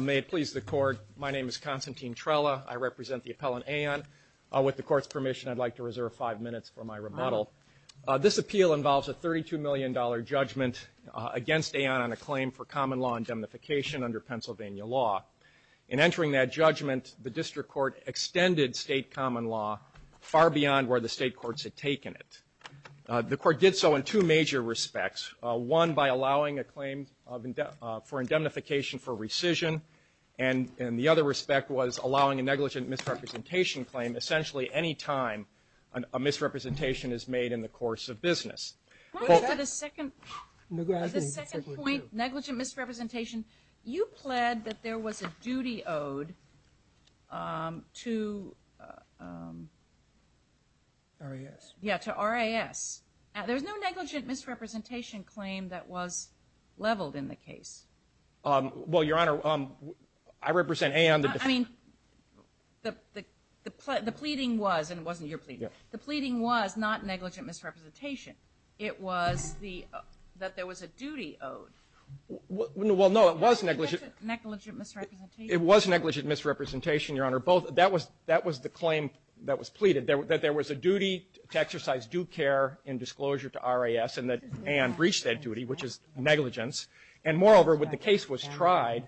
May it please the Court, my name is Constantine Trella. I represent the appellant Aeon. With the court's permission, I'd like to reserve five minutes for my rebuttal. This appeal involves a 32 million dollar judgment against Aeon on a claim for common law indemnification under Pennsylvania law. In entering that judgment, the district court extended state common law far beyond where the state courts had taken it. The court did so in two major respects. One by allowing a claim for indemnification for rescission, and the other respect was allowing a negligent misrepresentation claim essentially any time a misrepresentation is made in the course of business. The second point, negligent misrepresentation, you pled that there was a duty owed to RAS. Yeah, to RAS. There's no negligent misrepresentation claim that was leveled in the case. Well, Your Honor, I represent Aeon. I mean, the pleading was, and it wasn't your pleading, the pleading was not negligent misrepresentation. It was the, that there was a duty owed. Well, no, it was negligent. Negligent misrepresentation. It was negligent misrepresentation, Your Honor. Both, that was, that was the claim that was pleaded, that there was a duty to exercise due care in disclosure to RAS, and that Aeon breached that duty, which is negligence. And moreover, when the case was tried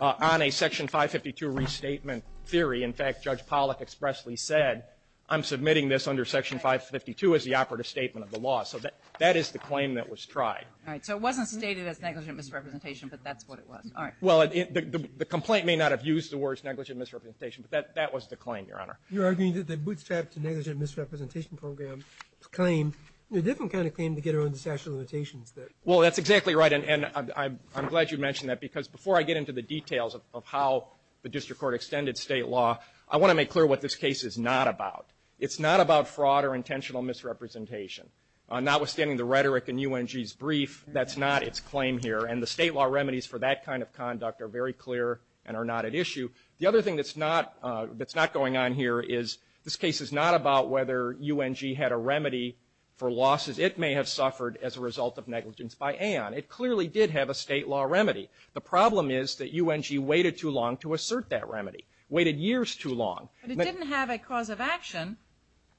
on a Section 552 restatement theory, in fact, Judge Pollack expressly said, I'm submitting this under Section 552 as the operative statement of the law. So that, that is the claim that was tried. All right. So it wasn't stated as negligent misrepresentation, but that's what it was. All right. Well, the complaint may not have used the words negligent misrepresentation, but that, that was the claim, Your Honor. You're arguing that the bootstrap to negligent misrepresentation program claim, a different kind of claim to get around the statute of limitations that... Well, that's exactly right. And I'm glad you mentioned that, because before I get into the details of how the district court extended state law, I want to make clear what this case is not about. It's not about fraud or intentional misrepresentation. Notwithstanding the rhetoric in UNG's brief, that's not its claim here. And the state law remedies for that kind of conduct are very clear and are not at issue. The other thing that's not, that's not going on here is, this case is not about whether UNG had a remedy for losses it may have suffered as a result of negligence by Aeon. It clearly did have a state law remedy. The problem is that UNG waited too long to assert that remedy, waited years too long. But it didn't have a cause of action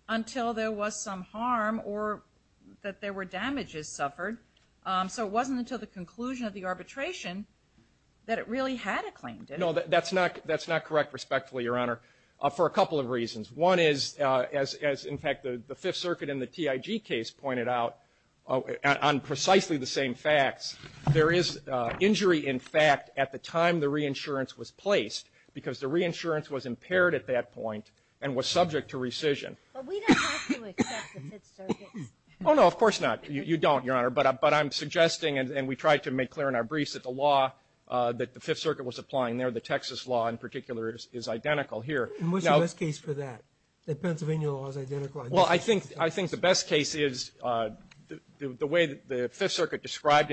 until there was some harm or that there were damages suffered. So it wasn't until the conclusion of the arbitration that it really had a claim, did it? No, that's not, that's not correct, respectfully, Your Honor, for a couple of reasons. One is, as in fact the Fifth Circuit in the TIG case pointed out, on precisely the same facts, there is injury in fact at the time the reinsurance was in effect at that point and was subject to rescission. But we don't have to accept the Fifth Circuit's. Oh, no, of course not. You don't, Your Honor. But I'm suggesting, and we tried to make clear in our briefs, that the law that the Fifth Circuit was applying there, the Texas law in particular, is identical here. And what's the best case for that? That Pennsylvania law is identical? Well, I think the best case is the way that the Fifth Circuit described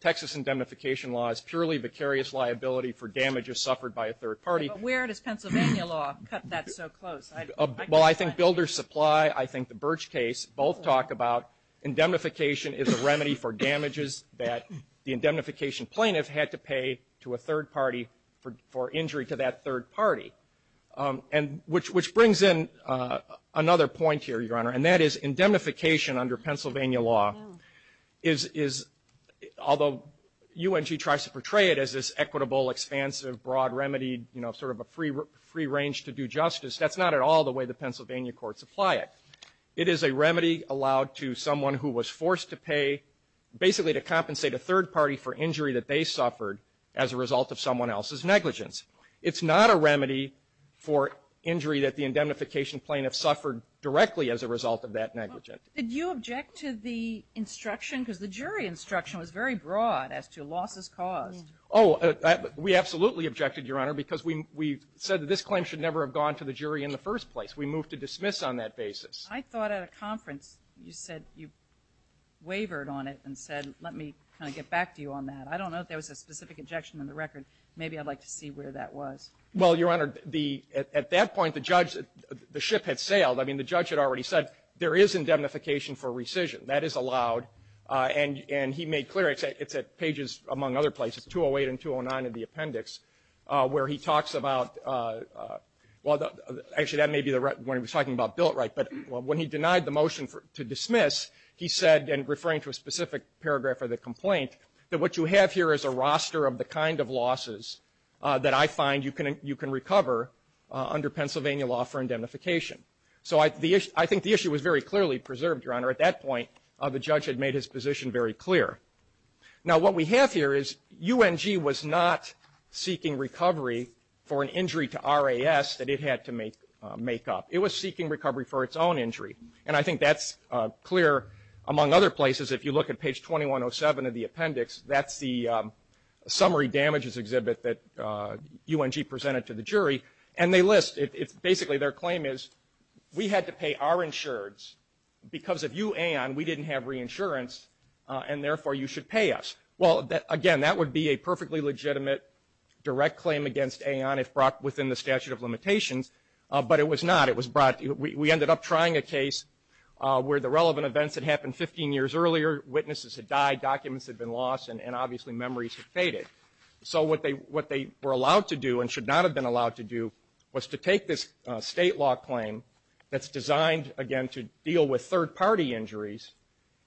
Texas indemnification law as purely vicarious liability for damages suffered by a third party. But where does Pennsylvania law cut that so close? Well, I think builder's supply, I think the Birch case both talk about indemnification is a remedy for damages that the indemnification plaintiff had to pay to a third party for injury to that third party. And which brings in another point here, Your Honor, and that is indemnification under Pennsylvania law is, although UNG tries to portray it as this equitable, expansive, broad remedy, you know, sort of a free range to do justice, that's not at all the way the Pennsylvania courts apply it. It is a remedy allowed to someone who was forced to pay, basically to compensate a third party for injury that they suffered as a result of someone else's negligence. It's not a remedy for injury that the indemnification plaintiff suffered directly as a result of that negligence. Did you object to the instruction, because the jury instruction was very broad as to losses caused? Oh, we absolutely objected, Your Honor, because we said that this claim should never have gone to the jury in the first place. We moved to dismiss on that basis. I thought at a conference you said you wavered on it and said, let me kind of get back to you on that. I don't know if there was a specific objection in the record. Maybe I'd like to see where that was. Well, Your Honor, at that point the judge, the ship had sailed. I mean, the judge had already said there is indemnification for rescission. That is allowed. And he made clear, it's at pages, among other places, 208 and 209 of the appendix, where he talks about, well, actually, that may be when he was talking about Billett-Wright. But when he denied the motion to dismiss, he said, and referring to a specific paragraph of the complaint, that what you have here is a roster of the kind of losses that I find you can recover under Pennsylvania law for indemnification. So I think the issue was very clearly preserved, Your Honor. At that point, the judge had made his position very clear. Now, what we have here is UNG was not seeking recovery for an injury to RAS that it had to make up. It was seeking recovery for its own injury. And I think that's clear among other places. If you look at page 2107 of the appendix, that's the summary damages exhibit that UNG presented to the jury. And they list, it's basically, their claim is, we had to pay our insurance, and therefore, you should pay us. Well, again, that would be a perfectly legitimate direct claim against AON if brought within the statute of limitations, but it was not. It was brought, we ended up trying a case where the relevant events had happened 15 years earlier, witnesses had died, documents had been lost, and obviously, memories had faded. So what they were allowed to do and should not have been allowed to do was to take this state law claim that's designed, again, to deal with third-party injuries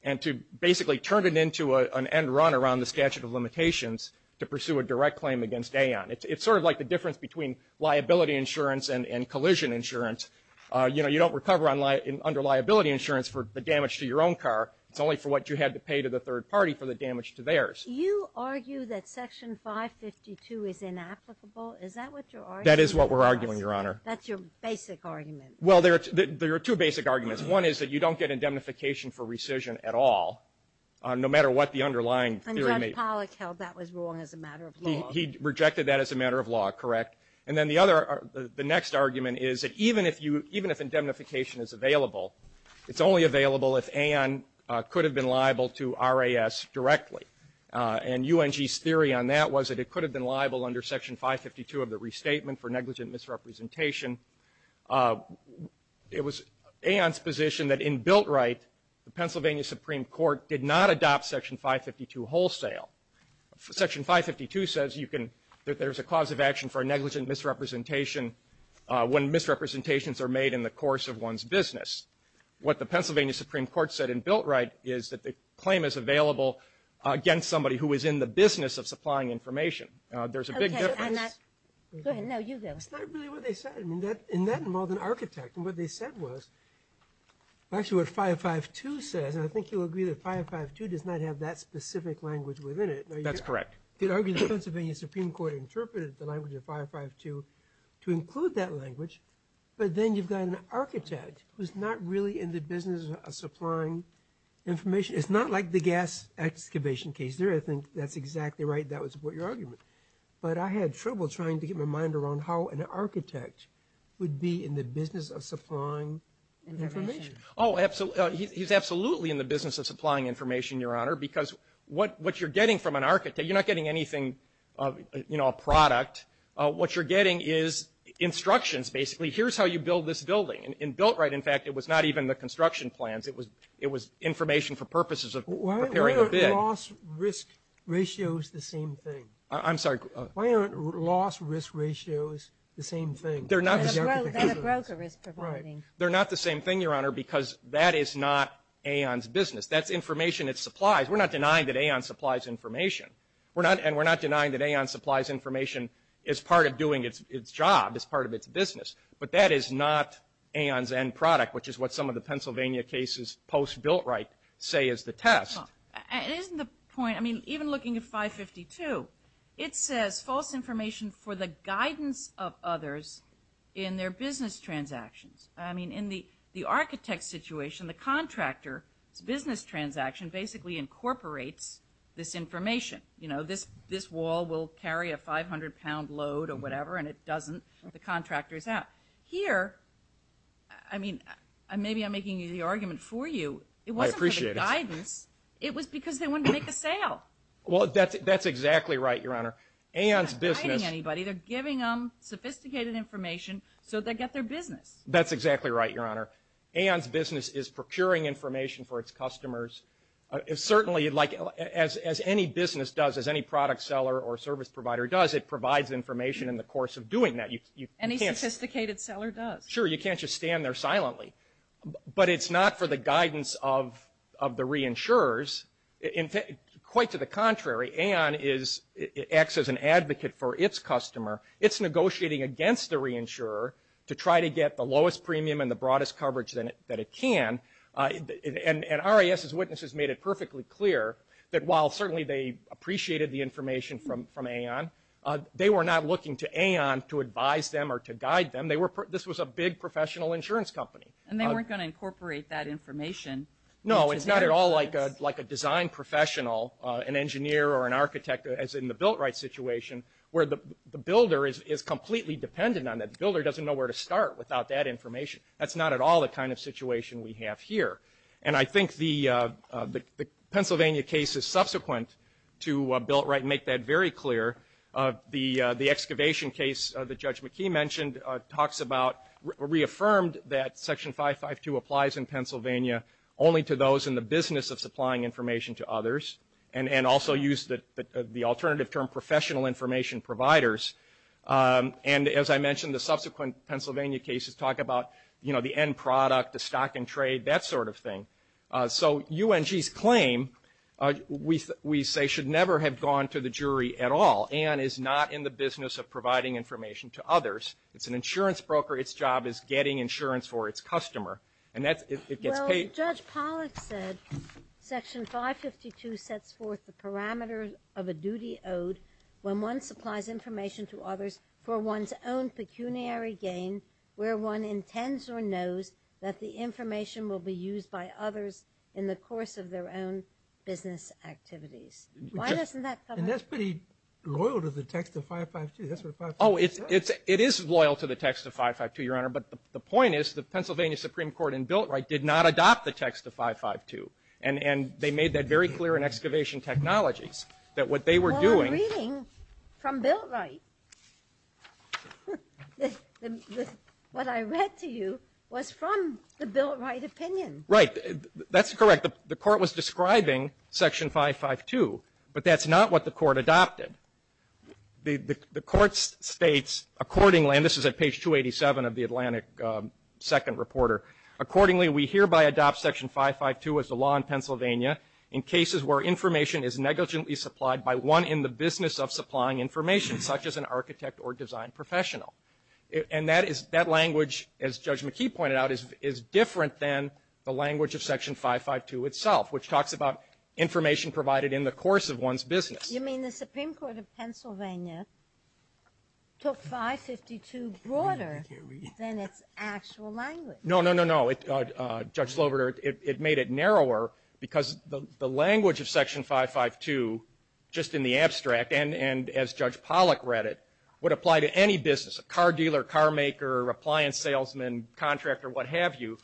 and to basically turn it into an end run around the statute of limitations to pursue a direct claim against AON. It's sort of like the difference between liability insurance and collision insurance. You know, you don't recover under liability insurance for the damage to your own car. It's only for what you had to pay to the third party for the damage to theirs. You argue that Section 552 is inapplicable. Is that what you're arguing? That is what we're arguing, Your Honor. That's your basic argument. Well, there are two basic arguments. One is that you don't get indemnification for rescission at all, no matter what the underlying theory may be. And Judge Pollack held that was wrong as a matter of law. He rejected that as a matter of law, correct. And then the other, the next argument is that even if you, even if indemnification is available, it's only available if AON could have been liable to RAS directly. And UNG's theory on that was that it could have been liable under Section 552 of the Restatement for Negligent Misrepresentation. It was AON's position that in Biltright, the Pennsylvania Supreme Court did not adopt Section 552 wholesale. Section 552 says you can, that there's a cause of action for a negligent misrepresentation when misrepresentations are made in the course of one's business. What the Pennsylvania Supreme Court said in Biltright is that the claim is available against somebody who is in the business of supplying information. There's a big difference. Okay. I'm not. Go ahead. No, you go. That's not really what they said. I mean, that, and that involved an architect. And what they said was, actually what 552 says, and I think you'll agree that 552 does not have that specific language within it. That's correct. You could argue the Pennsylvania Supreme Court interpreted the language of 552 to include that language, but then you've got an architect who's not really in the business of supplying information. It's not like the gas excavation case. There, I think that's exactly right. That would support your argument. But I had trouble trying to get my mind around how an architect would be in the business of supplying information. Oh, absolutely. He's absolutely in the business of supplying information, Your Honor, because what you're getting from an architect, you're not getting anything, you know, a product. What you're getting is instructions, basically. Here's how you build this building. In Biltright, in fact, it was not even the construction plans. It was information for purposes of preparing the bid. Why are loss-risk ratios the same thing? I'm sorry. Why are loss-risk ratios the same thing? They're not the same thing, Your Honor, because that is not AON's business. That's information it supplies. We're not denying that AON supplies information, and we're not denying that AON supplies information as part of doing its job, as part of its business. But that is not AON's end product, which is what some of the Pennsylvania cases post-Biltright say is the test. Isn't the point, I mean, even looking at 552, it says false information for the guidance of others in their business transactions. I mean, in the architect's situation, the contractor's business transaction basically incorporates this information. You know, this wall will carry a 500-pound load or whatever, and it doesn't. The contractor's out. Here, I mean, maybe I'm making the argument for you. I appreciate it. But for the guidance, it was because they wanted to make a sale. Well, that's exactly right, Your Honor. AON's business... They're not hiding anybody. They're giving them sophisticated information so they get their business. That's exactly right, Your Honor. AON's business is procuring information for its customers. Certainly, like as any business does, as any product seller or service provider does, it provides information in the course of doing that. Any sophisticated seller does. Sure, you can't just stand there silently. But it's not for the guidance of the reinsurers. Quite to the contrary, AON acts as an advocate for its customer. It's negotiating against the reinsurer to try to get the lowest premium and the broadest coverage that it can. And RIS's witnesses made it perfectly clear that while certainly they appreciated the information from AON, they were not looking to AON to advise them or to guide them. This was a big professional insurance company. And they weren't going to incorporate that information. No, it's not at all like a design professional, an engineer or an architect, as in the Biltright situation, where the builder is completely dependent on that. The builder doesn't know where to start without that information. That's not at all the kind of situation we have here. And I think the Pennsylvania case is subsequent to Biltright and make that very clear. The excavation case that Judge McKee mentioned talks about, reaffirmed that Section 552 applies in only to those in the business of supplying information to others and also used the alternative term, professional information providers. And as I mentioned, the subsequent Pennsylvania cases talk about, you know, the end product, the stock and trade, that sort of thing. So UNG's claim, we say, should never have gone to the jury at all. AON is not in the business of providing information to others. It's an insurance broker. Its job is getting insurance for its customer. And that's, it gets paid. But Judge Pollack said Section 552 sets forth the parameters of a duty owed when one supplies information to others for one's own pecuniary gain, where one intends or knows that the information will be used by others in the course of their own business activities. Why doesn't that come up? And that's pretty loyal to the text of 552. That's what 552 says. Oh, it is loyal to the text of 552, Your Honor, but the point is the text is not the text of 552. And they made that very clear in Excavation Technologies, that what they were doing Well, I'm reading from Biltright. What I read to you was from the Biltright opinion. Right. That's correct. The Court was describing Section 552, but that's not what the Court adopted. The Court states, accordingly, and this is at page 287 of the Atlantic Second Reporter, accordingly, we hereby adopt Section 552 as the law in Pennsylvania in cases where information is negligently supplied by one in the business of supplying information, such as an architect or design professional. And that is, that language, as Judge McKee pointed out, is different than the language of Section 552 itself, which talks about information provided in the course of one's business. You mean the Supreme Court of Pennsylvania took 552 broader than its actual language? No, no, no, no. Judge Slover, it made it narrower because the language of Section 552, just in the abstract, and as Judge Pollack read it, would apply to any business, a car dealer, car maker, appliance salesman, contractor, what have you,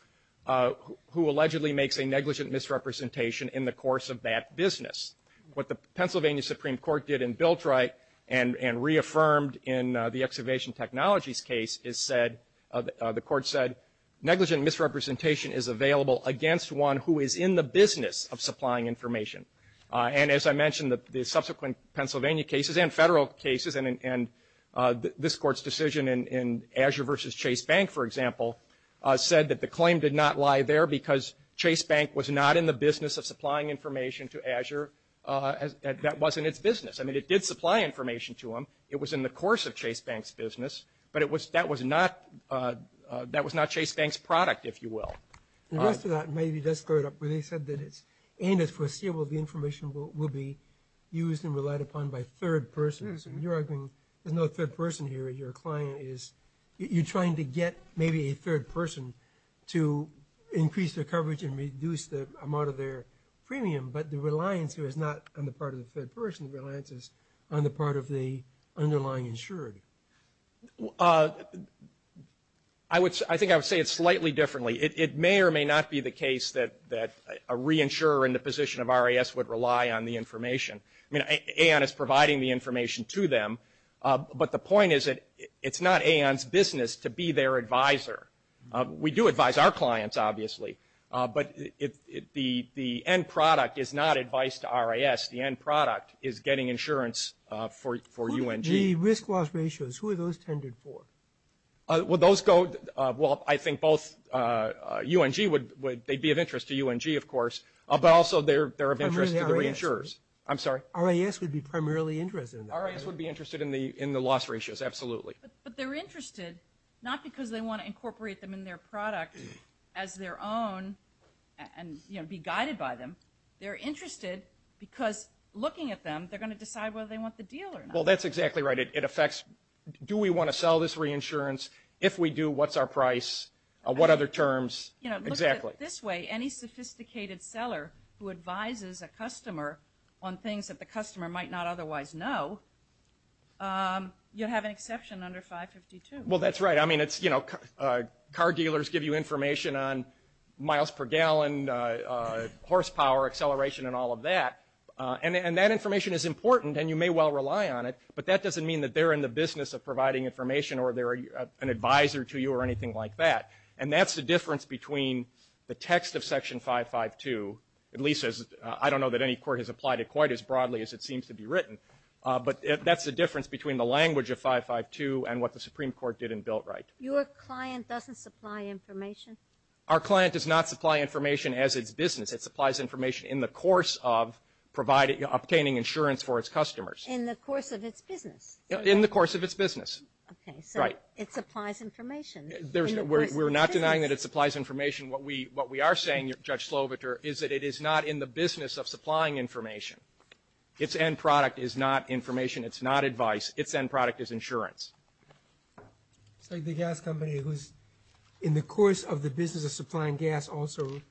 who allegedly makes a negligent misrepresentation in the course of that business. What the Pennsylvania Supreme Court did in Biltright and reaffirmed in the Excavation Technologies case is said, the Court said, negligent misrepresentation is available against one who is in the business of supplying information. And as I mentioned, the subsequent Pennsylvania cases and federal cases and this Court's decision in Azure versus Chase Bank, for example, said that the claim did not lie there because Chase Bank was not in the business of supplying information to Azure. That wasn't its business. I mean, it did supply information to them. It was in the course of Chase Bank's business, but that was not Chase Bank's product, if you will. The rest of that maybe does start up where they said that it's aimed at foreseeable the information will be used and relied upon by third persons. And you're arguing there's no third person here. Your client is, you're trying to get maybe a third person to increase their coverage and reduce the amount of their premium. But the reliance here is not on the part of the third person. The reliance is on the part of the underlying insurer. I would, I think I would say it slightly differently. It may or may not be the case that a reinsurer in the position of RAS would rely on the information. I mean, AON is providing the information to them. But the point is that it's not AON's business to be their advisor. We do advise our clients, obviously. But the end product is not advice to RAS. The end product is getting insurance for UNG. The risk loss ratios, who are those tended for? Well, those go, well, I think both UNG would, they'd be of interest to UNG, of course. But also they're of interest to the reinsurers. RAS would be primarily interested in that. RAS would be interested in the loss ratios, absolutely. But they're interested, not because they want to incorporate them in their product as their own and, you know, be guided by them. They're interested because, looking at them, they're going to decide whether they want the deal or not. Well, that's exactly right. It affects, do we want to sell this reinsurance? If we do, what's our price? What other terms? You know, look at it this way. Any sophisticated seller who advises a customer on things that the customer might not otherwise know, you'll have an exception under 552. Well, that's right. I mean, it's, you know, car dealers give you information on miles per gallon, horsepower, acceleration and all of that. And that information is important and you may well rely on it. But that doesn't mean that they're in the business of providing information or they're an advisor to you or anything like that. And that's the difference between the text of Section 552, at least as, I don't know that any court has applied it quite as broadly as it seems to be written, but that's the difference between the language of 552 and what the Supreme Court did in Biltright. Your client doesn't supply information? Our client does not supply information as its business. It supplies information in the course of providing, obtaining insurance for its customers. In the course of its business? In the course of its business. Okay. So it supplies information in the course of its business? We're not denying that it supplies information. What we are saying, Judge Sloviter, is that it is not in the business of supplying information. It's end product is not information. It's not advice. Its end product is insurance. It's like the gas company who's, in the course of the business of supplying gas, also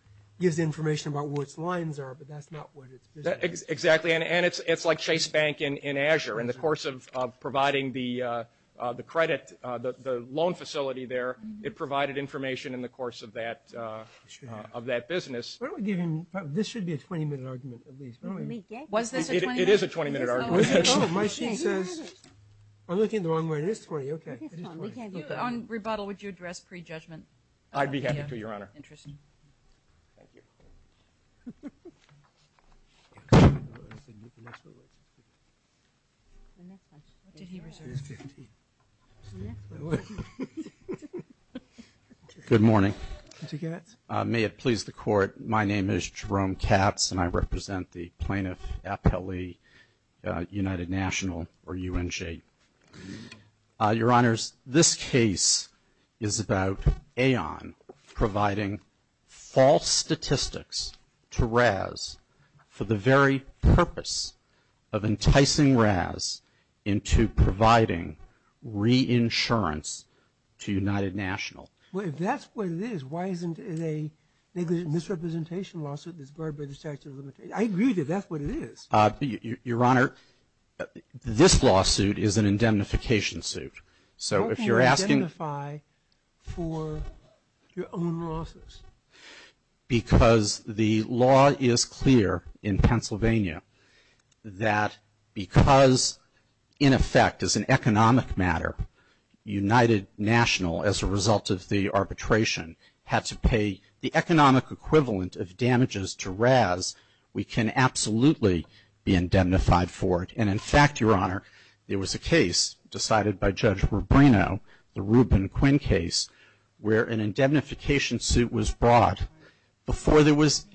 gives information about what its lines are, but that's not what its business is. Exactly. And it's like Chase Bank in Azure. In the course of providing the credit, the loan facility there, it provided information in the course of that business. This should be a 20-minute argument at least. Was this a 20-minute argument? It is a 20-minute argument. My sheet says, I'm looking the wrong way. It is 20. Okay. On rebuttal, would you address pre-judgment? I'd be happy to, Your Honor. Interesting. Thank you. Good morning. May it please the Court. My name is Jerome Katz, and I represent the plaintiff appellee, United National, or UNJ. Your Honors, this case is about AON providing false statistics to RAS for the very purpose of enticing RAS into providing reinsurance to United National. Well, if that's what it is, why isn't it a misrepresentation lawsuit that's what it is? Your Honor, this lawsuit is an indemnification suit. So if you're asking How can you indemnify for your own losses? Because the law is clear in Pennsylvania that because, in effect, as an economic matter, United National, as a result of the arbitration, had to pay the economic equivalent of damages to RAS, we can absolutely be indemnified for it. And, in fact, Your Honor, there was a case decided by Judge Rubino, the Rubin-Quinn case, where an indemnification suit was brought before there was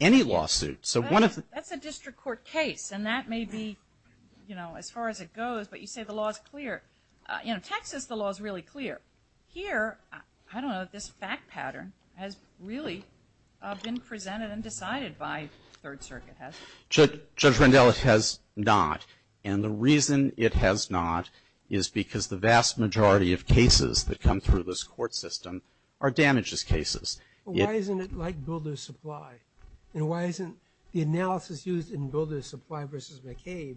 any lawsuit. So one of the That's a district court case, and that may be, you know, as far as it goes, but you say the law is clear. In Texas, the law is really clear. Here, I don't know if this fact pattern has really been presented and decided by Third Circuit. Judge Rendell, it has not. And the reason it has not is because the vast majority of cases that come through this court system are damages cases. Why isn't it like builder's supply? And why isn't the analysis used in builder's supply versus McCabe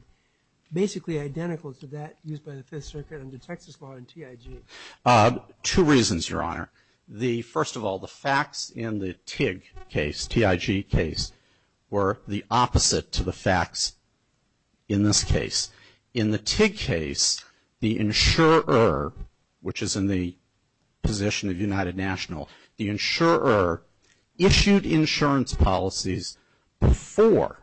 basically identical to that used by the Fifth Circuit under Texas law and TIG? Two reasons, Your Honor. The first of all, the facts in the TIG case, T-I-G case, were the opposite to the facts in this case. In the TIG case, the insurer, which is in the position of United National, the insurer issued insurance policies before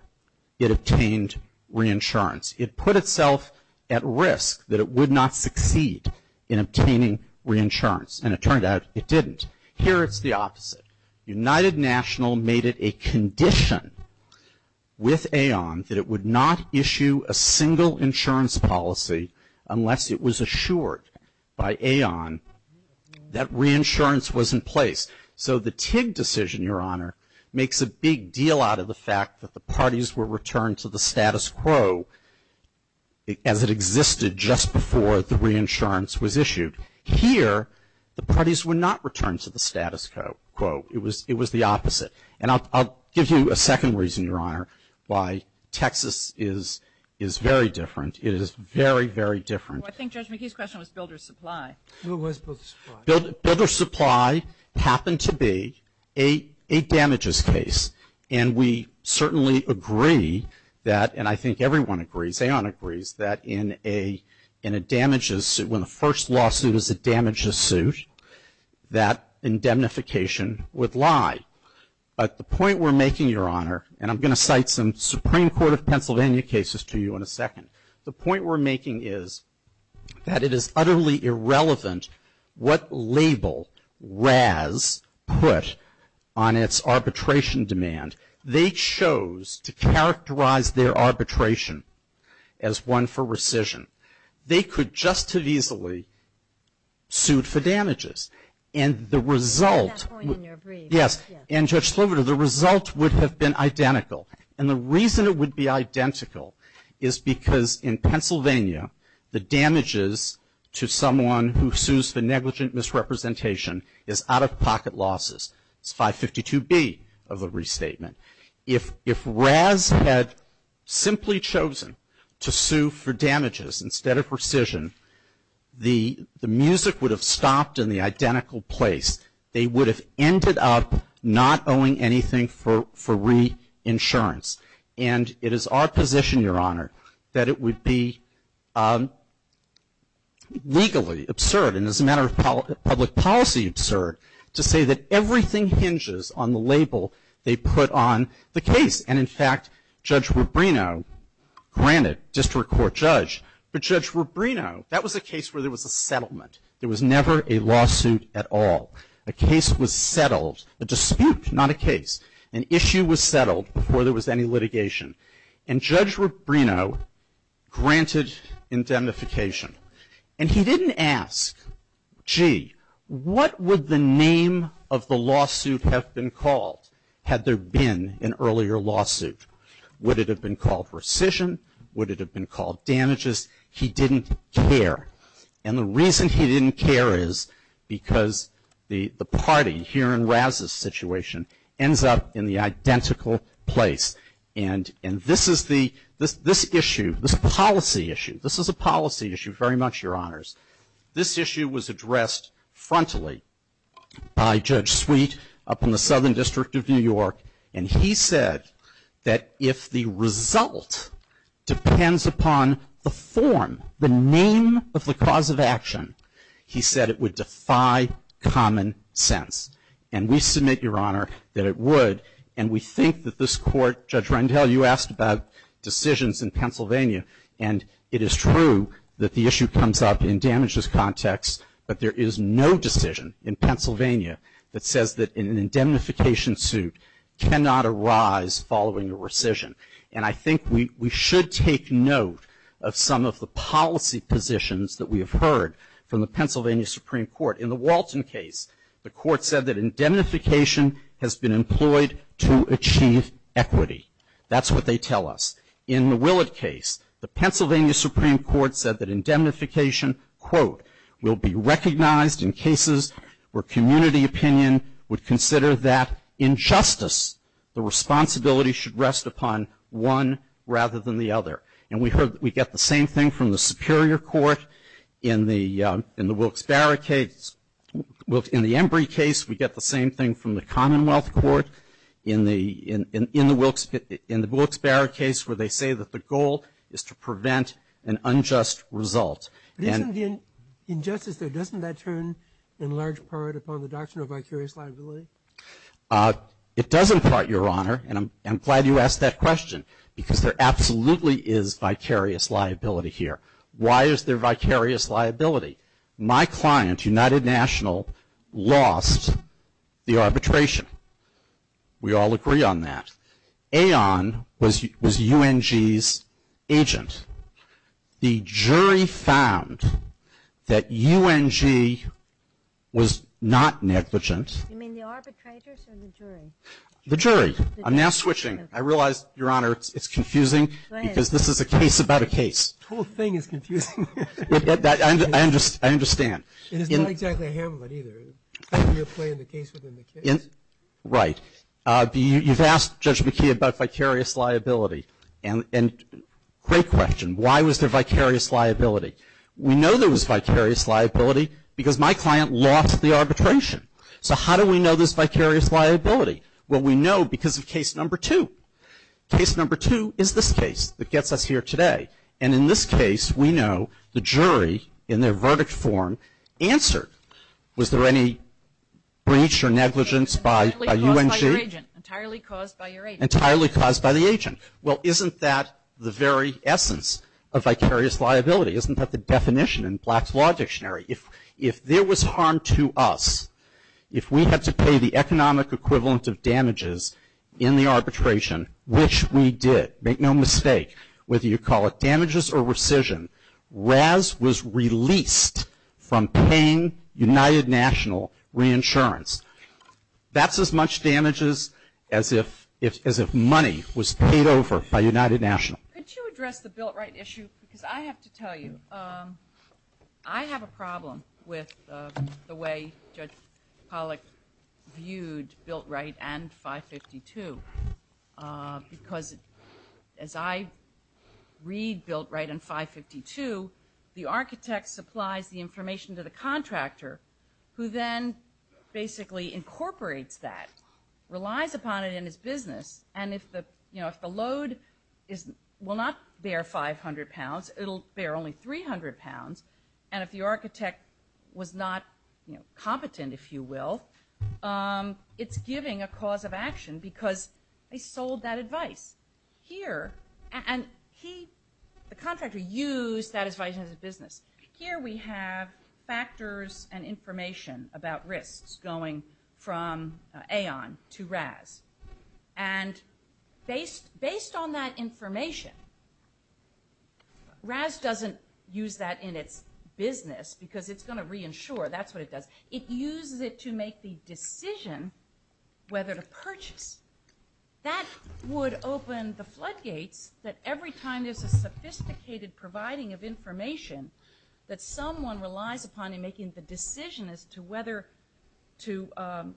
it obtained reinsurance. It put itself at risk that it would not succeed in obtaining reinsurance, and it turned out it didn't. Here, it's the opposite. United National made it a condition with AON that it would not issue a single insurance policy unless it was assured by AON that reinsurance was in place. So the TIG decision, Your Honor, makes a big deal out of the fact that the insurance was issued. Here, the parties would not return to the status quo. It was the opposite. And I'll give you a second reason, Your Honor, why Texas is very different. It is very, very different. I think Judge McCabe's question was builder's supply. It was builder's supply. Builder's supply happened to be a damages case, and we certainly agree that, and I think everyone agrees, AON agrees, that in a damages, when the first lawsuit is a damages suit, that indemnification would lie. But the point we're making, Your Honor, and I'm going to cite some Supreme Court of Pennsylvania cases to you in a second, the point we're making is that it is utterly irrelevant what label RAS put on its arbitration demand. They chose to characterize their arbitration as one for rescission. They could just as easily suit for damages. And the result At that point in your brief, yes. Yes. And Judge Slover, the result would have been identical. And the reason it would be identical is because in Pennsylvania, the damages to someone who sues for damages is 552B of a restatement. If RAS had simply chosen to sue for damages instead of rescission, the music would have stopped in the identical place. They would have ended up not owing anything for reinsurance. And it is our position, Your Honor, that it would be legally absurd and as a matter of public policy absurd to say that everything hinges on the label they put on the case. And in fact, Judge Rubino granted district court judge. But Judge Rubino, that was a case where there was a settlement. There was never a lawsuit at all. A case was settled. A dispute, not a case. An issue was settled before there was any litigation. And Judge Rubino granted indemnification. And he didn't ask, gee, what would the name of the lawsuit have been called had there been an earlier lawsuit? Would it have been called rescission? Would it have been called damages? He didn't care. And the reason he didn't care is because the party here in RAS's situation ends up in the identical place. And this is the, this issue, this policy issue, this is a policy issue very much, Your Honors. This issue was addressed frontally by Judge Sweet up in the Southern District of New York. And he said that if the result depends upon the form, the name of the cause of action, he said it would defy common sense. And we submit, Your Honor, that it would. And we think that this Court, Judge Rendell, you asked about decisions in Pennsylvania. And it is true that the issue comes up in damages context, but there is no decision in Pennsylvania that says that an indemnification suit cannot arise following a rescission. And I think we, we should take note of some of the policy positions that we have heard from the Pennsylvania Supreme Court. In the Walton case, the Court said that indemnification has been employed to achieve equity. That's what they tell us. In the Willett case, the Pennsylvania Supreme Court said that indemnification, quote, will be recognized in cases where community opinion would consider that injustice, the responsibility should rest upon one rather than the other. And we heard, we get the same thing from the Superior Court in the Wilkes-Barre case. In the Embry case, we get the same thing from the Commonwealth Court in the Wilkes-Barre case where they say that the goal is to prevent an unjust result. And But isn't the injustice there, doesn't that turn in large part upon the doctrine of vicarious liability? It does in part, Your Honor. And I'm glad you asked that question because there absolutely is vicarious liability here. Why is there vicarious liability? My client, United National, lost the arbitration. We all agree on that. Aon was, was UNG's agent. The jury found that UNG was not negligent. You mean the arbitrators or the jury? The jury. I'm now switching. I realize, Your Honor, it's confusing because this is a case about a case. The whole thing is confusing. I understand. And it's not exactly a Hamlet either. Right. You've asked Judge McKee about vicarious liability. And great question. Why was there vicarious liability? We know there was vicarious liability because my client lost the arbitration. So how do we know there's vicarious liability? Well, we know because of case number two. Case number two is this case that gets us here today. And in this case, we know the jury, in their verdict form, answered. Was there any breach or negligence by UNG? Entirely caused by your agent. Entirely caused by the agent. Well, isn't that the very essence of vicarious liability? There was harm to us if we had to pay the economic equivalent of damages in the arbitration, which we did. Make no mistake, whether you call it damages or rescission, Raz was released from paying United National Reinsurance. That's as much damages as if money was paid over by United National. Could you address the built right issue? Because I have to tell you, I have a problem with the way Judge Pollack viewed built right and 552. Because as I read built right and 552, the architect supplies the information to the contractor who then basically incorporates that, relies upon it in his business, and if the load will not bear 500 pounds, it will bear only 300 pounds. And if the architect was not competent, if you will, it's giving a cause of action because they sold that advice. Here, and he, the contractor used that advice in his business. Here we have factors and information about risks going from Aon to Raz. And based on that information, Raz doesn't use that in its business because it's going to reinsure. That's what it does. It uses it to make the decision whether to purchase. That would open the floodgates that every time there's a sophisticated providing of information that someone relies upon in making the decision as to whether to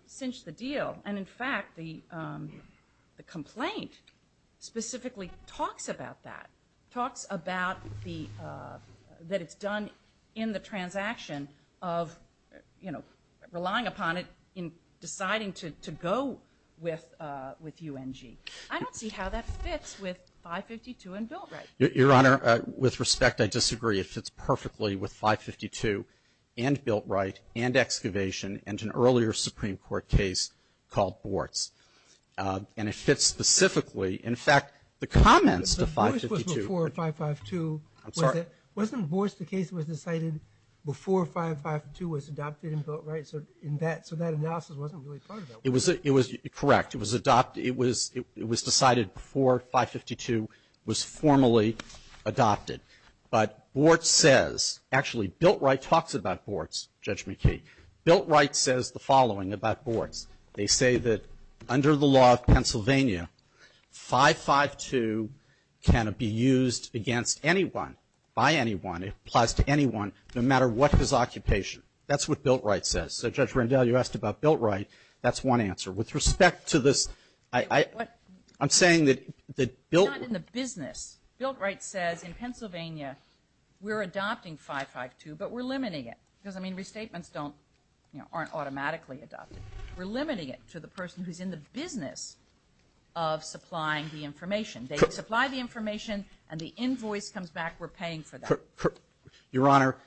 cinch the deal. And, in fact, the complaint specifically talks about that, talks about that it's done in the transaction of relying upon it in deciding to go with UNG. I don't see how that fits with 552 and built right. Your Honor, with respect, I disagree. It fits perfectly with 552 and built right and excavation and an earlier Supreme Court case called Bortz. And it fits specifically, in fact, the comments to 552. The voice was before 552. I'm sorry. Wasn't Bortz the case that was decided before 552 was adopted and built right? So in that, so that analysis wasn't really part of that. It was, it was correct. It was adopted, it was decided before 552 was formally adopted. But Bortz says, actually, built right talks about Bortz, Judge McKee. Built right says the following about Bortz. They say that under the law of Pennsylvania, 552 can be used against anyone, by anyone, it applies to anyone, no matter what his occupation. That's what built right says. So, Judge Rendell, you asked about built right. That's one answer. With respect to this, I'm saying that built. It's not in the business. Built right says in Pennsylvania, we're adopting 552, but we're limiting it. It doesn't mean restatements don't, you know, aren't automatically adopted. We're limiting it to the person who's in the business of supplying the information. They supply the information, and the invoice comes back, we're paying for that. Your Honor,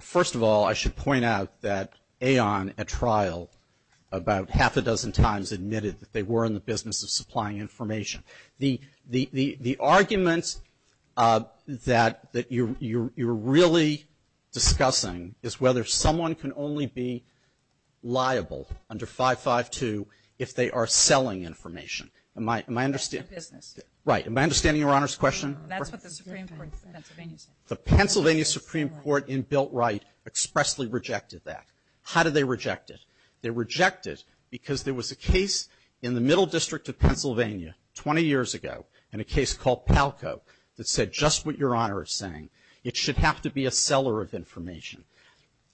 first of all, I should point out that Aon, at trial, about half a dozen times admitted that they were in the business of supplying information. The argument that you're really discussing is whether someone can only be liable under 552 if they are selling information. Am I understanding? Right. Am I understanding Your Honor's question? The Pennsylvania Supreme Court in built right expressly rejected that. How did they reject it? They rejected it because there was a case in the middle district of Pennsylvania 20 years ago in a case called Palco that said just what Your Honor is saying, it should have to be a seller of information.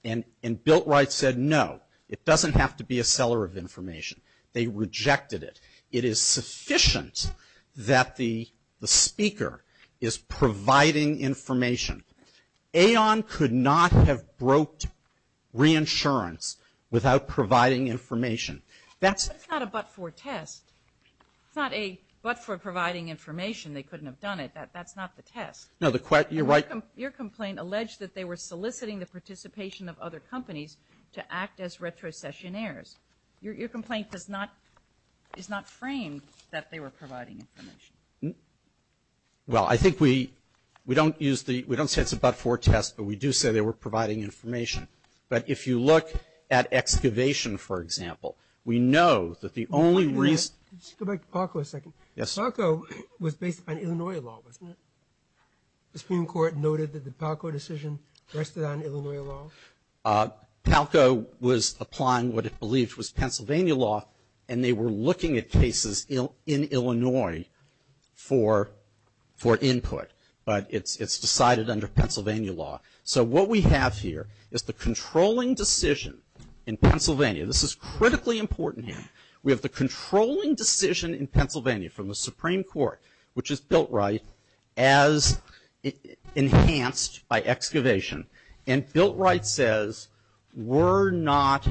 And built right said no, it doesn't have to be a seller of information. They rejected it. It is sufficient that the speaker is providing information. Aon could not have broke reinsurance without providing information. That's not a but for test. It's not a but for providing information. They couldn't have done it. That's not the test. No, you're right. Your complaint alleged that they were soliciting the participation of other companies to act as retrocessionaires. Your complaint is not framed that they were providing information. Well, I think we don't use the we don't say it's a but for test, but we do say they were providing information. But if you look at excavation, for example, we know that the only reason Let's go back to Palco a second. Yes. Palco was based on Illinois law, wasn't it? The Supreme Court noted that the Palco decision rested on Illinois law. Palco was applying what it believed was Pennsylvania law, and they were looking at cases in Illinois for input. But it's decided under Pennsylvania law. So what we have here is the controlling decision in Pennsylvania. This is critically important here. We have the controlling decision in Pennsylvania from the Supreme Court, which is Biltright, as enhanced by excavation. And Biltright says we're not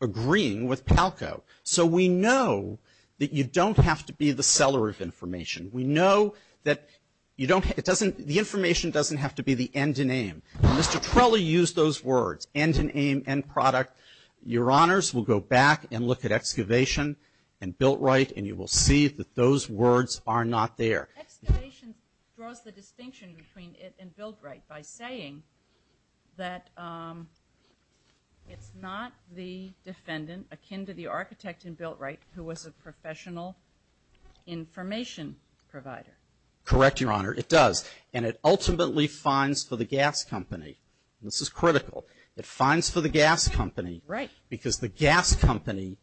agreeing with Palco. So we know that you don't have to be the seller of information. We know that you don't it doesn't the information doesn't have to be the end and aim. Mr. Trella used those words, end and aim, end product. Your Honors, we'll go back and look at excavation and Biltright, and you will see that those words are not there. Excavation draws the distinction between it and Biltright by saying that it's not the defendant akin to the architect in Biltright who was a professional information provider. Correct, Your Honor. It does. And it ultimately fines for the gas company. This is critical. It fines for the gas company. Right. Because the gas company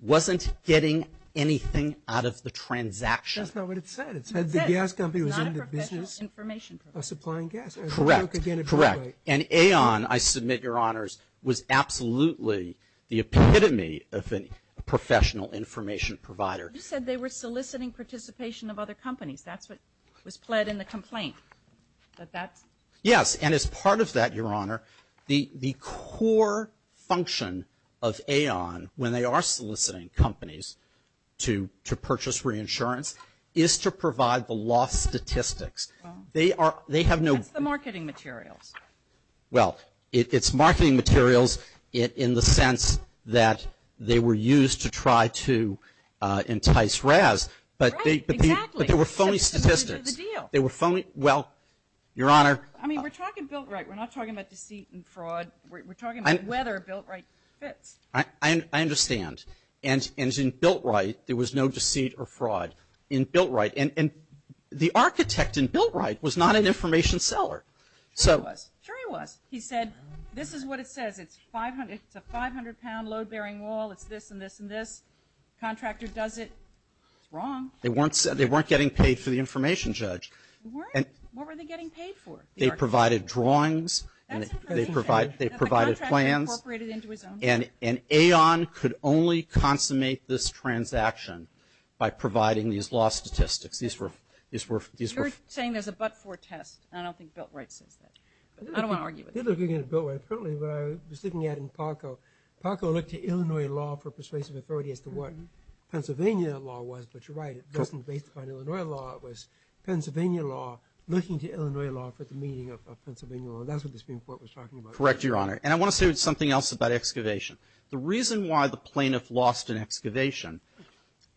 wasn't getting anything out of the transaction. That's not what it said. It said the gas company was in the business of supplying gas. Correct. Correct. And Aon, I submit, Your Honors, was absolutely the epitome of a professional information provider. You said they were soliciting participation of other companies. That's what was pled in the complaint. Yes. And as part of that, Your Honor, the core function of Aon, when they are soliciting companies to purchase reinsurance, is to provide the lost statistics. That's the marketing materials. Well, it's marketing materials in the sense that they were used to try to entice Raz. Right. Exactly. But they were phony statistics. They were phony. Well, Your Honor. I mean, we're talking Biltright. We're not talking about deceit and fraud. We're talking about whether Biltright fits. I understand. And in Biltright, there was no deceit or fraud in Biltright. And the architect in Biltright was not an information seller. Sure he was. Sure he was. He said, this is what it says. It's a 500-pound load-bearing wall. It's this and this and this. Contractor does it. It's wrong. They weren't getting paid for the information, Judge. They weren't? What were they getting paid for? They provided drawings. That's interesting. They provided plans. And Aon could only consummate this transaction by providing these law statistics. You're saying there's a but-for test. I don't think Biltright says that. I don't want to argue with that. They're looking at Biltright. Apparently, what I was looking at in Parco, Parco looked to Illinois law for persuasive authority as to what Pennsylvania law was. But you're right. It wasn't based upon Illinois law. It was Pennsylvania law looking to Illinois law for the meaning of Pennsylvania law. And that's what the Supreme Court was talking about. You're correct, Your Honor. And I want to say something else about excavation. The reason why the plaintiff lost an excavation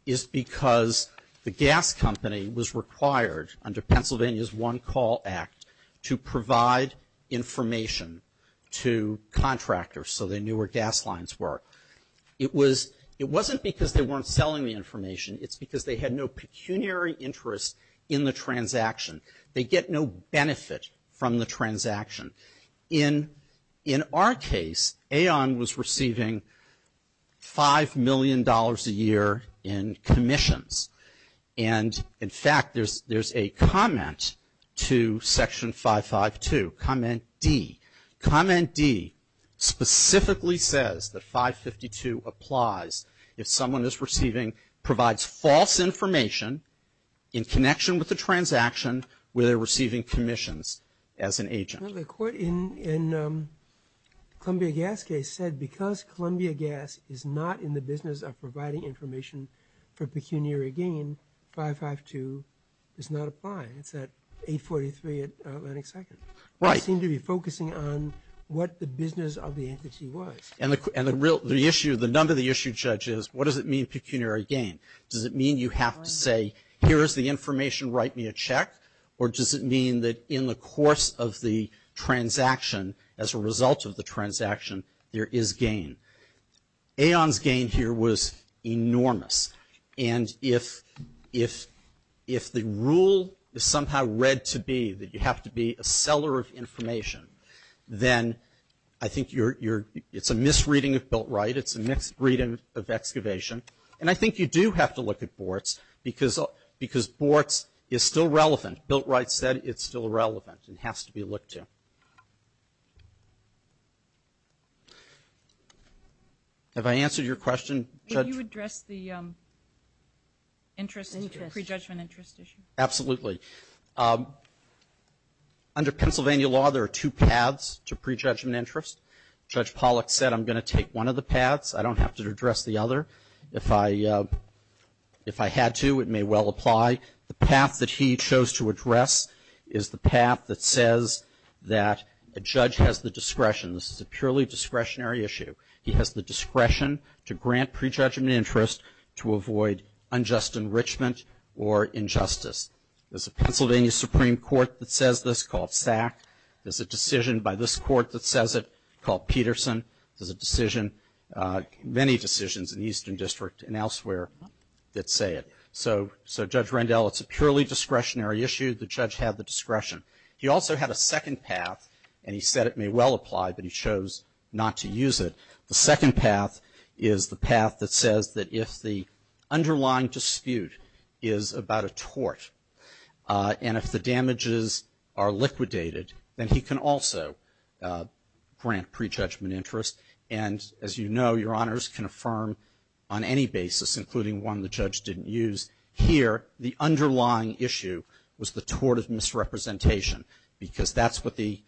is because the gas company was required under Pennsylvania's One Call Act to provide information to contractors so they knew where gas lines were. It wasn't because they weren't selling the information. It's because they had no pecuniary interest in the transaction. They get no benefit from the transaction. In our case, Aon was receiving $5 million a year in commissions. And, in fact, there's a comment to Section 552, Comment D. Comment D specifically says that 552 applies if someone is receiving provides false information in connection with the transaction where they're receiving commissions as an agent. Well, the court in Columbia Gas case said because Columbia Gas is not in the business of providing information for pecuniary gain, 552 does not apply. It's at 843 Atlantic Second. Right. They seem to be focusing on what the business of the entity was. And the issue, the number of the issue judges, what does it mean pecuniary gain? Does it mean you have to say, here is the information, write me a check? Or does it mean that in the course of the transaction, as a result of the transaction, there is gain? Aon's gain here was enormous. And if the rule is somehow read to be that you have to be a seller of this reading of Biltright, it's a mixed reading of excavation. And I think you do have to look at Bortz because Bortz is still relevant. Biltright said it's still relevant and has to be looked to. Have I answered your question, Judge? Can you address the interest, prejudgment interest issue? Absolutely. Under Pennsylvania law, there are two paths to prejudgment interest. Judge Pollack said I'm going to take one of the paths. I don't have to address the other. If I had to, it may well apply. The path that he chose to address is the path that says that a judge has the discretion. This is a purely discretionary issue. He has the discretion to grant prejudgment interest to avoid unjust enrichment or injustice. There's a Pennsylvania Supreme Court that says this called SAC. There's a decision by this court that says it called Peterson. There's a decision, many decisions in the Eastern District and elsewhere that say it. So, Judge Rendell, it's a purely discretionary issue. The judge had the discretion. He also had a second path, and he said it may well apply, but he chose not to use it. The second path is the path that says that if the underlying dispute is about a tort and if the damages are liquidated, then he can also grant prejudgment interest. And, as you know, your honors can affirm on any basis, including one the judge didn't use, here the underlying issue was the tort of misrepresentation because that's what the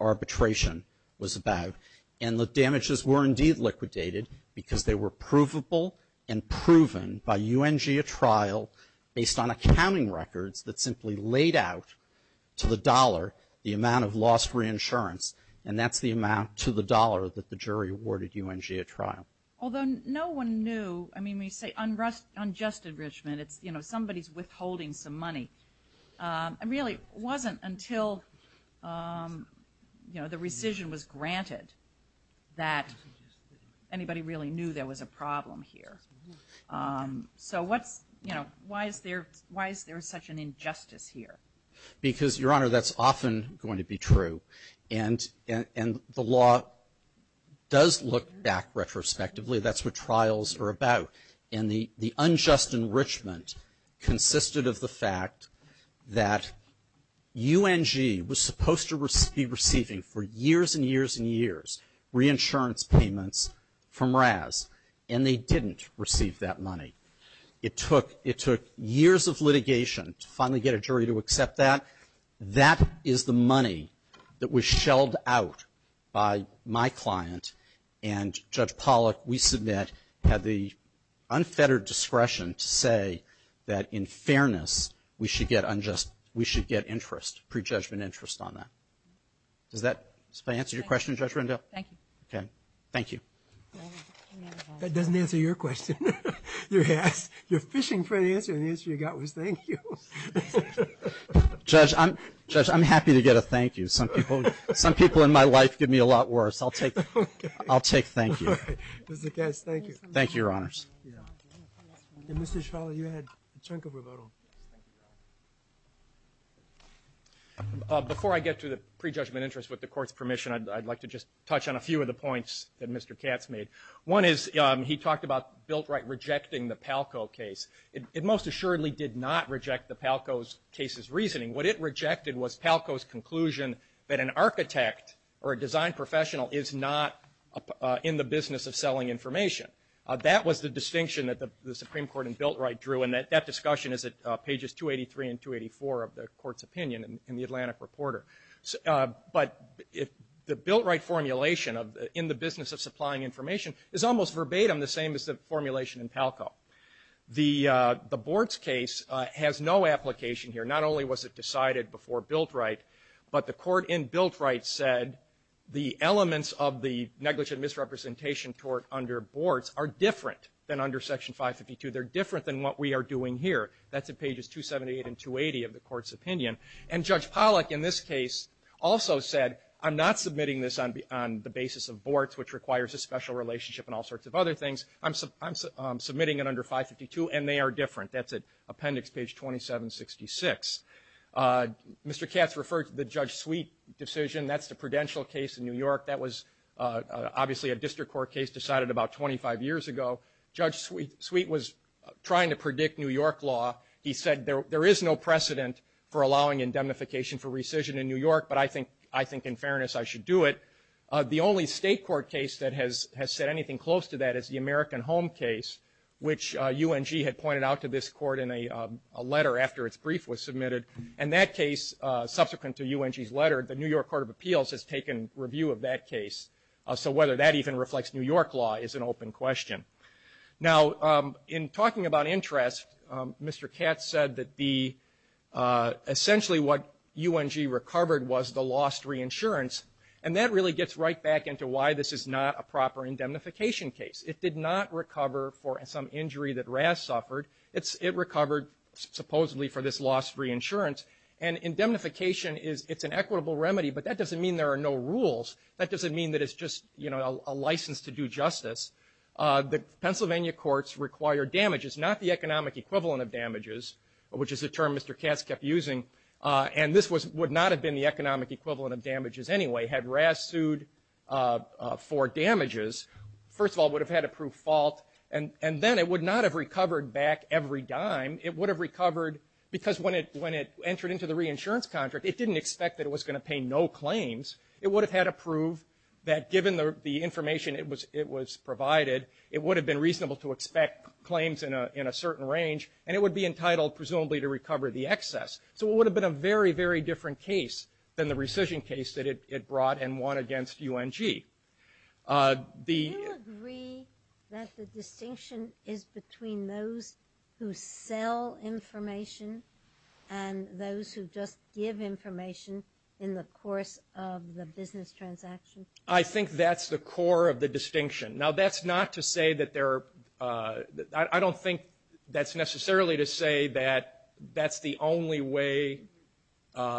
arbitration was about. And the damages were indeed liquidated because they were provable and proven by UNGA trial based on accounting records that simply laid out to the dollar the amount of lost reinsurance, and that's the amount to the dollar that the jury awarded UNGA trial. Although no one knew, I mean, we say unjust enrichment. It's, you know, somebody's withholding some money. It really wasn't until, you know, the rescission was granted that anybody really knew there was a problem here. So what's, you know, why is there such an injustice here? Because, your honor, that's often going to be true, and the law does look back retrospectively. That's what trials are about. And the unjust enrichment consisted of the fact that UNG was supposed to be receiving for years and years and years reinsurance payments from RAS, and they didn't receive that money. It took years of litigation to finally get a jury to accept that. That is the money that was shelled out by my client, and Judge Pollack, we submit, had the unfettered discretion to say that in fairness, we should get unjust, we should get interest, prejudgment interest on that. Does that answer your question, Judge Rendell? Thank you. Okay. Thank you. That doesn't answer your question. You're fishing for an answer, and the answer you got was thank you. Judge, I'm happy to get a thank you. Some people in my life give me a lot worse. I'll take thank you. All right. Mr. Kess, thank you. Thank you, your honors. And Mr. Schroeder, you had a chunk of rebuttal. Thank you, your honor. Before I get to the prejudgment interest with the court's permission, I'd like to just touch on a few of the points that Mr. Katz made. One is he talked about Biltright rejecting the Palco case. It most assuredly did not reject the Palco's case's reasoning. What it rejected was Palco's conclusion that an architect or a design professional is not in the business of selling information. That was the distinction that the Supreme Court and Biltright drew, and that discussion is at pages 283 and 284 of the court's opinion in the Atlantic Reporter. But the Biltright formulation of in the business of supplying information is almost verbatim the same as the formulation in Palco. The Bortz case has no application here. Not only was it decided before Biltright, but the court in Biltright said the elements of the negligent misrepresentation tort under Bortz are different than under Section 552. They're different than what we are doing here. That's at pages 278 and 280 of the court's opinion. And Judge Pollack in this case also said, I'm not submitting this on the basis of Bortz, which requires a special relationship and all sorts of other things. I'm submitting it under 552, and they are different. That's at appendix page 2766. Mr. Katz referred to the Judge Sweet decision. That's the Prudential case in New York. That was obviously a district court case decided about 25 years ago. Judge Sweet was trying to predict New York law. He said there is no precedent for allowing indemnification for rescission in New York, but I think in fairness I should do it. The only state court case that has said anything close to that is the American Home case, which UNG had pointed out to this court in a letter after its brief was submitted. And that case, subsequent to UNG's letter, the New York Court of Appeals has taken review of that case. So whether that even reflects New York law is an open question. Now, in talking about interest, Mr. Katz said that essentially what UNG recovered was the lost reinsurance, and that really gets right back into why this is not a proper indemnification case. It did not recover for some injury that Raz suffered. It recovered supposedly for this lost reinsurance. And indemnification is an equitable remedy, but that doesn't mean there are no rules. That doesn't mean that it's just, you know, a license to do justice. The Pennsylvania courts require damages, not the economic equivalent of damages, which is a term Mr. Katz kept using. And this was – would not have been the economic equivalent of damages anyway had Raz sued for damages. First of all, it would have had a proof of fault, and then it would not have recovered back every dime. It would have recovered because when it – when it entered into the reinsurance contract, it didn't expect that it was going to pay no claims. It would have had a proof that given the information it was provided, it would have been reasonable to expect claims in a certain range, and it would be entitled presumably to recover the excess. So it would have been a very, very different case than the rescission case that it brought and won against UNG. The – Do you agree that the distinction is between those who sell information and those who just give information in the course of the business transaction? I think that's the core of the distinction. Now, that's not to say that they're – I don't think that's necessarily to say that that's the only way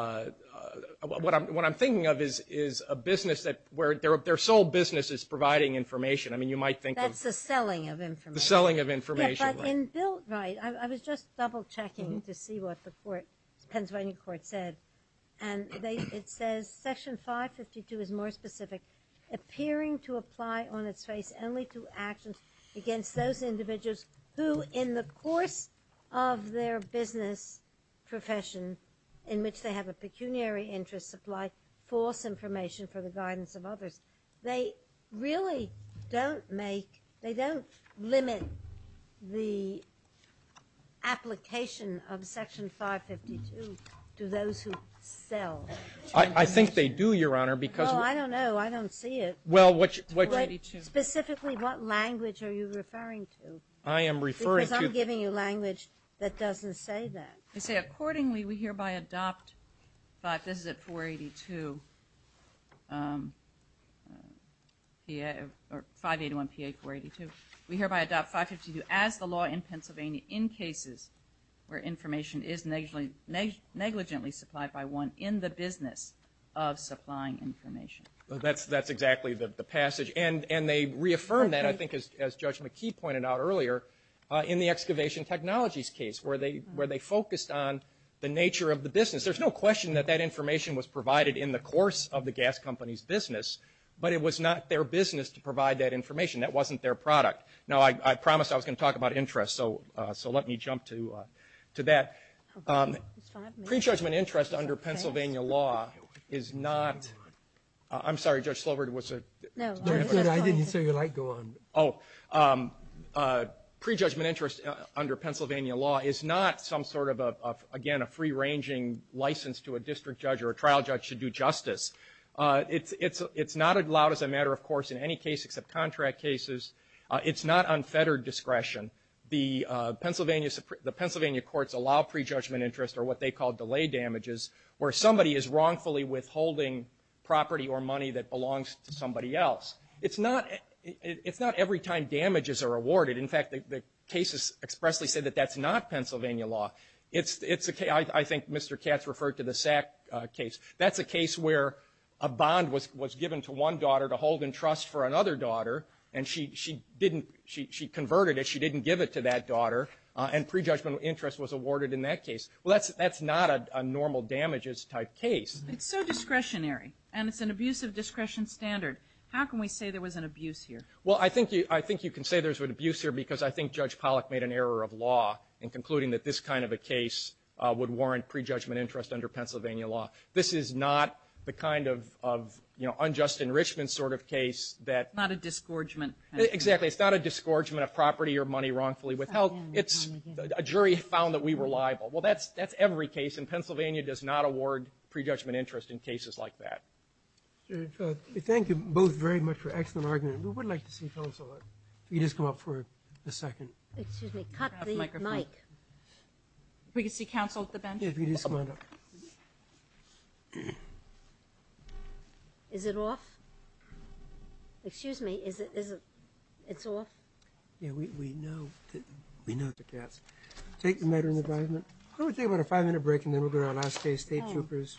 – what I'm thinking of is a business that – where their sole business is providing information. I mean, you might think of – That's the selling of information. The selling of information. Right. I was just double-checking to see what the court – the Pennsylvania court said, and it says Section 552 is more specific, appearing to apply on its face only to actions against those individuals who, in the course of their business profession, in which they have a pecuniary interest, supply false information for the guidance of others. They really don't make – they don't limit the application of Section 552 to those who sell information. I think they do, Your Honor, because – Oh, I don't know. I don't see it. Well, what – Specifically, what language are you referring to? I am referring to – Because I'm giving you language that doesn't say that. They say, accordingly, we hereby adopt – this is at 482 – 581PA482 – we hereby adopt 552 as the law in Pennsylvania in cases where information is negligently supplied by one in the business of supplying information. That's exactly the passage. And they reaffirmed that, I think, as Judge McKee pointed out earlier, in the excavation technologies case, where they focused on the nature of the business. There's no question that that information was provided in the course of the gas company's business, but it was not their business to provide that information. That wasn't their product. Now, I promised I was going to talk about interest, so let me jump to that. Pre-judgment interest under Pennsylvania law is not – I'm sorry, Judge Slover, was it? No. I didn't see your light go on. Oh. Pre-judgment interest under Pennsylvania law is not some sort of, again, a free-ranging license to a district judge or a trial judge to do justice. It's not allowed as a matter of course in any case except contract cases. It's not unfettered discretion. The Pennsylvania courts allow pre-judgment interest or what they call delay damages where somebody is wrongfully withholding property or money that belongs to somebody else. It's not every time damages are awarded. In fact, the cases expressly say that that's not Pennsylvania law. I think Mr. Katz referred to the SAC case. That's a case where a bond was given to one daughter to hold in trust for another daughter, and she converted it, she didn't give it to that daughter, and pre-judgment interest was awarded in that case. Well, that's not a normal damages type case. It's so discretionary, and it's an abusive discretion standard. How can we say there was an abuse here? Well, I think you can say there was an abuse here because I think Judge Pollack made an error of law in concluding that this kind of a case would warrant pre-judgment interest under Pennsylvania law. This is not the kind of, you know, unjust enrichment sort of case that. Not a disgorgement. Exactly. It's not a disgorgement of property or money wrongfully withheld. It's a jury found that we were liable. Well, that's every case, and Pennsylvania does not award pre-judgment interest in cases like that. Thank you both very much for an excellent argument. We would like to see counsel. If you could just come up for a second. Excuse me. Cut the mic. We can see counsel at the bench. Yeah, if you could just come on up. Is it off? Excuse me. It's off? Yeah, we know. We know it's a cast. Take the matter into advisement. Why don't we take about a five-minute break, and then we'll go to our last case, state troopers.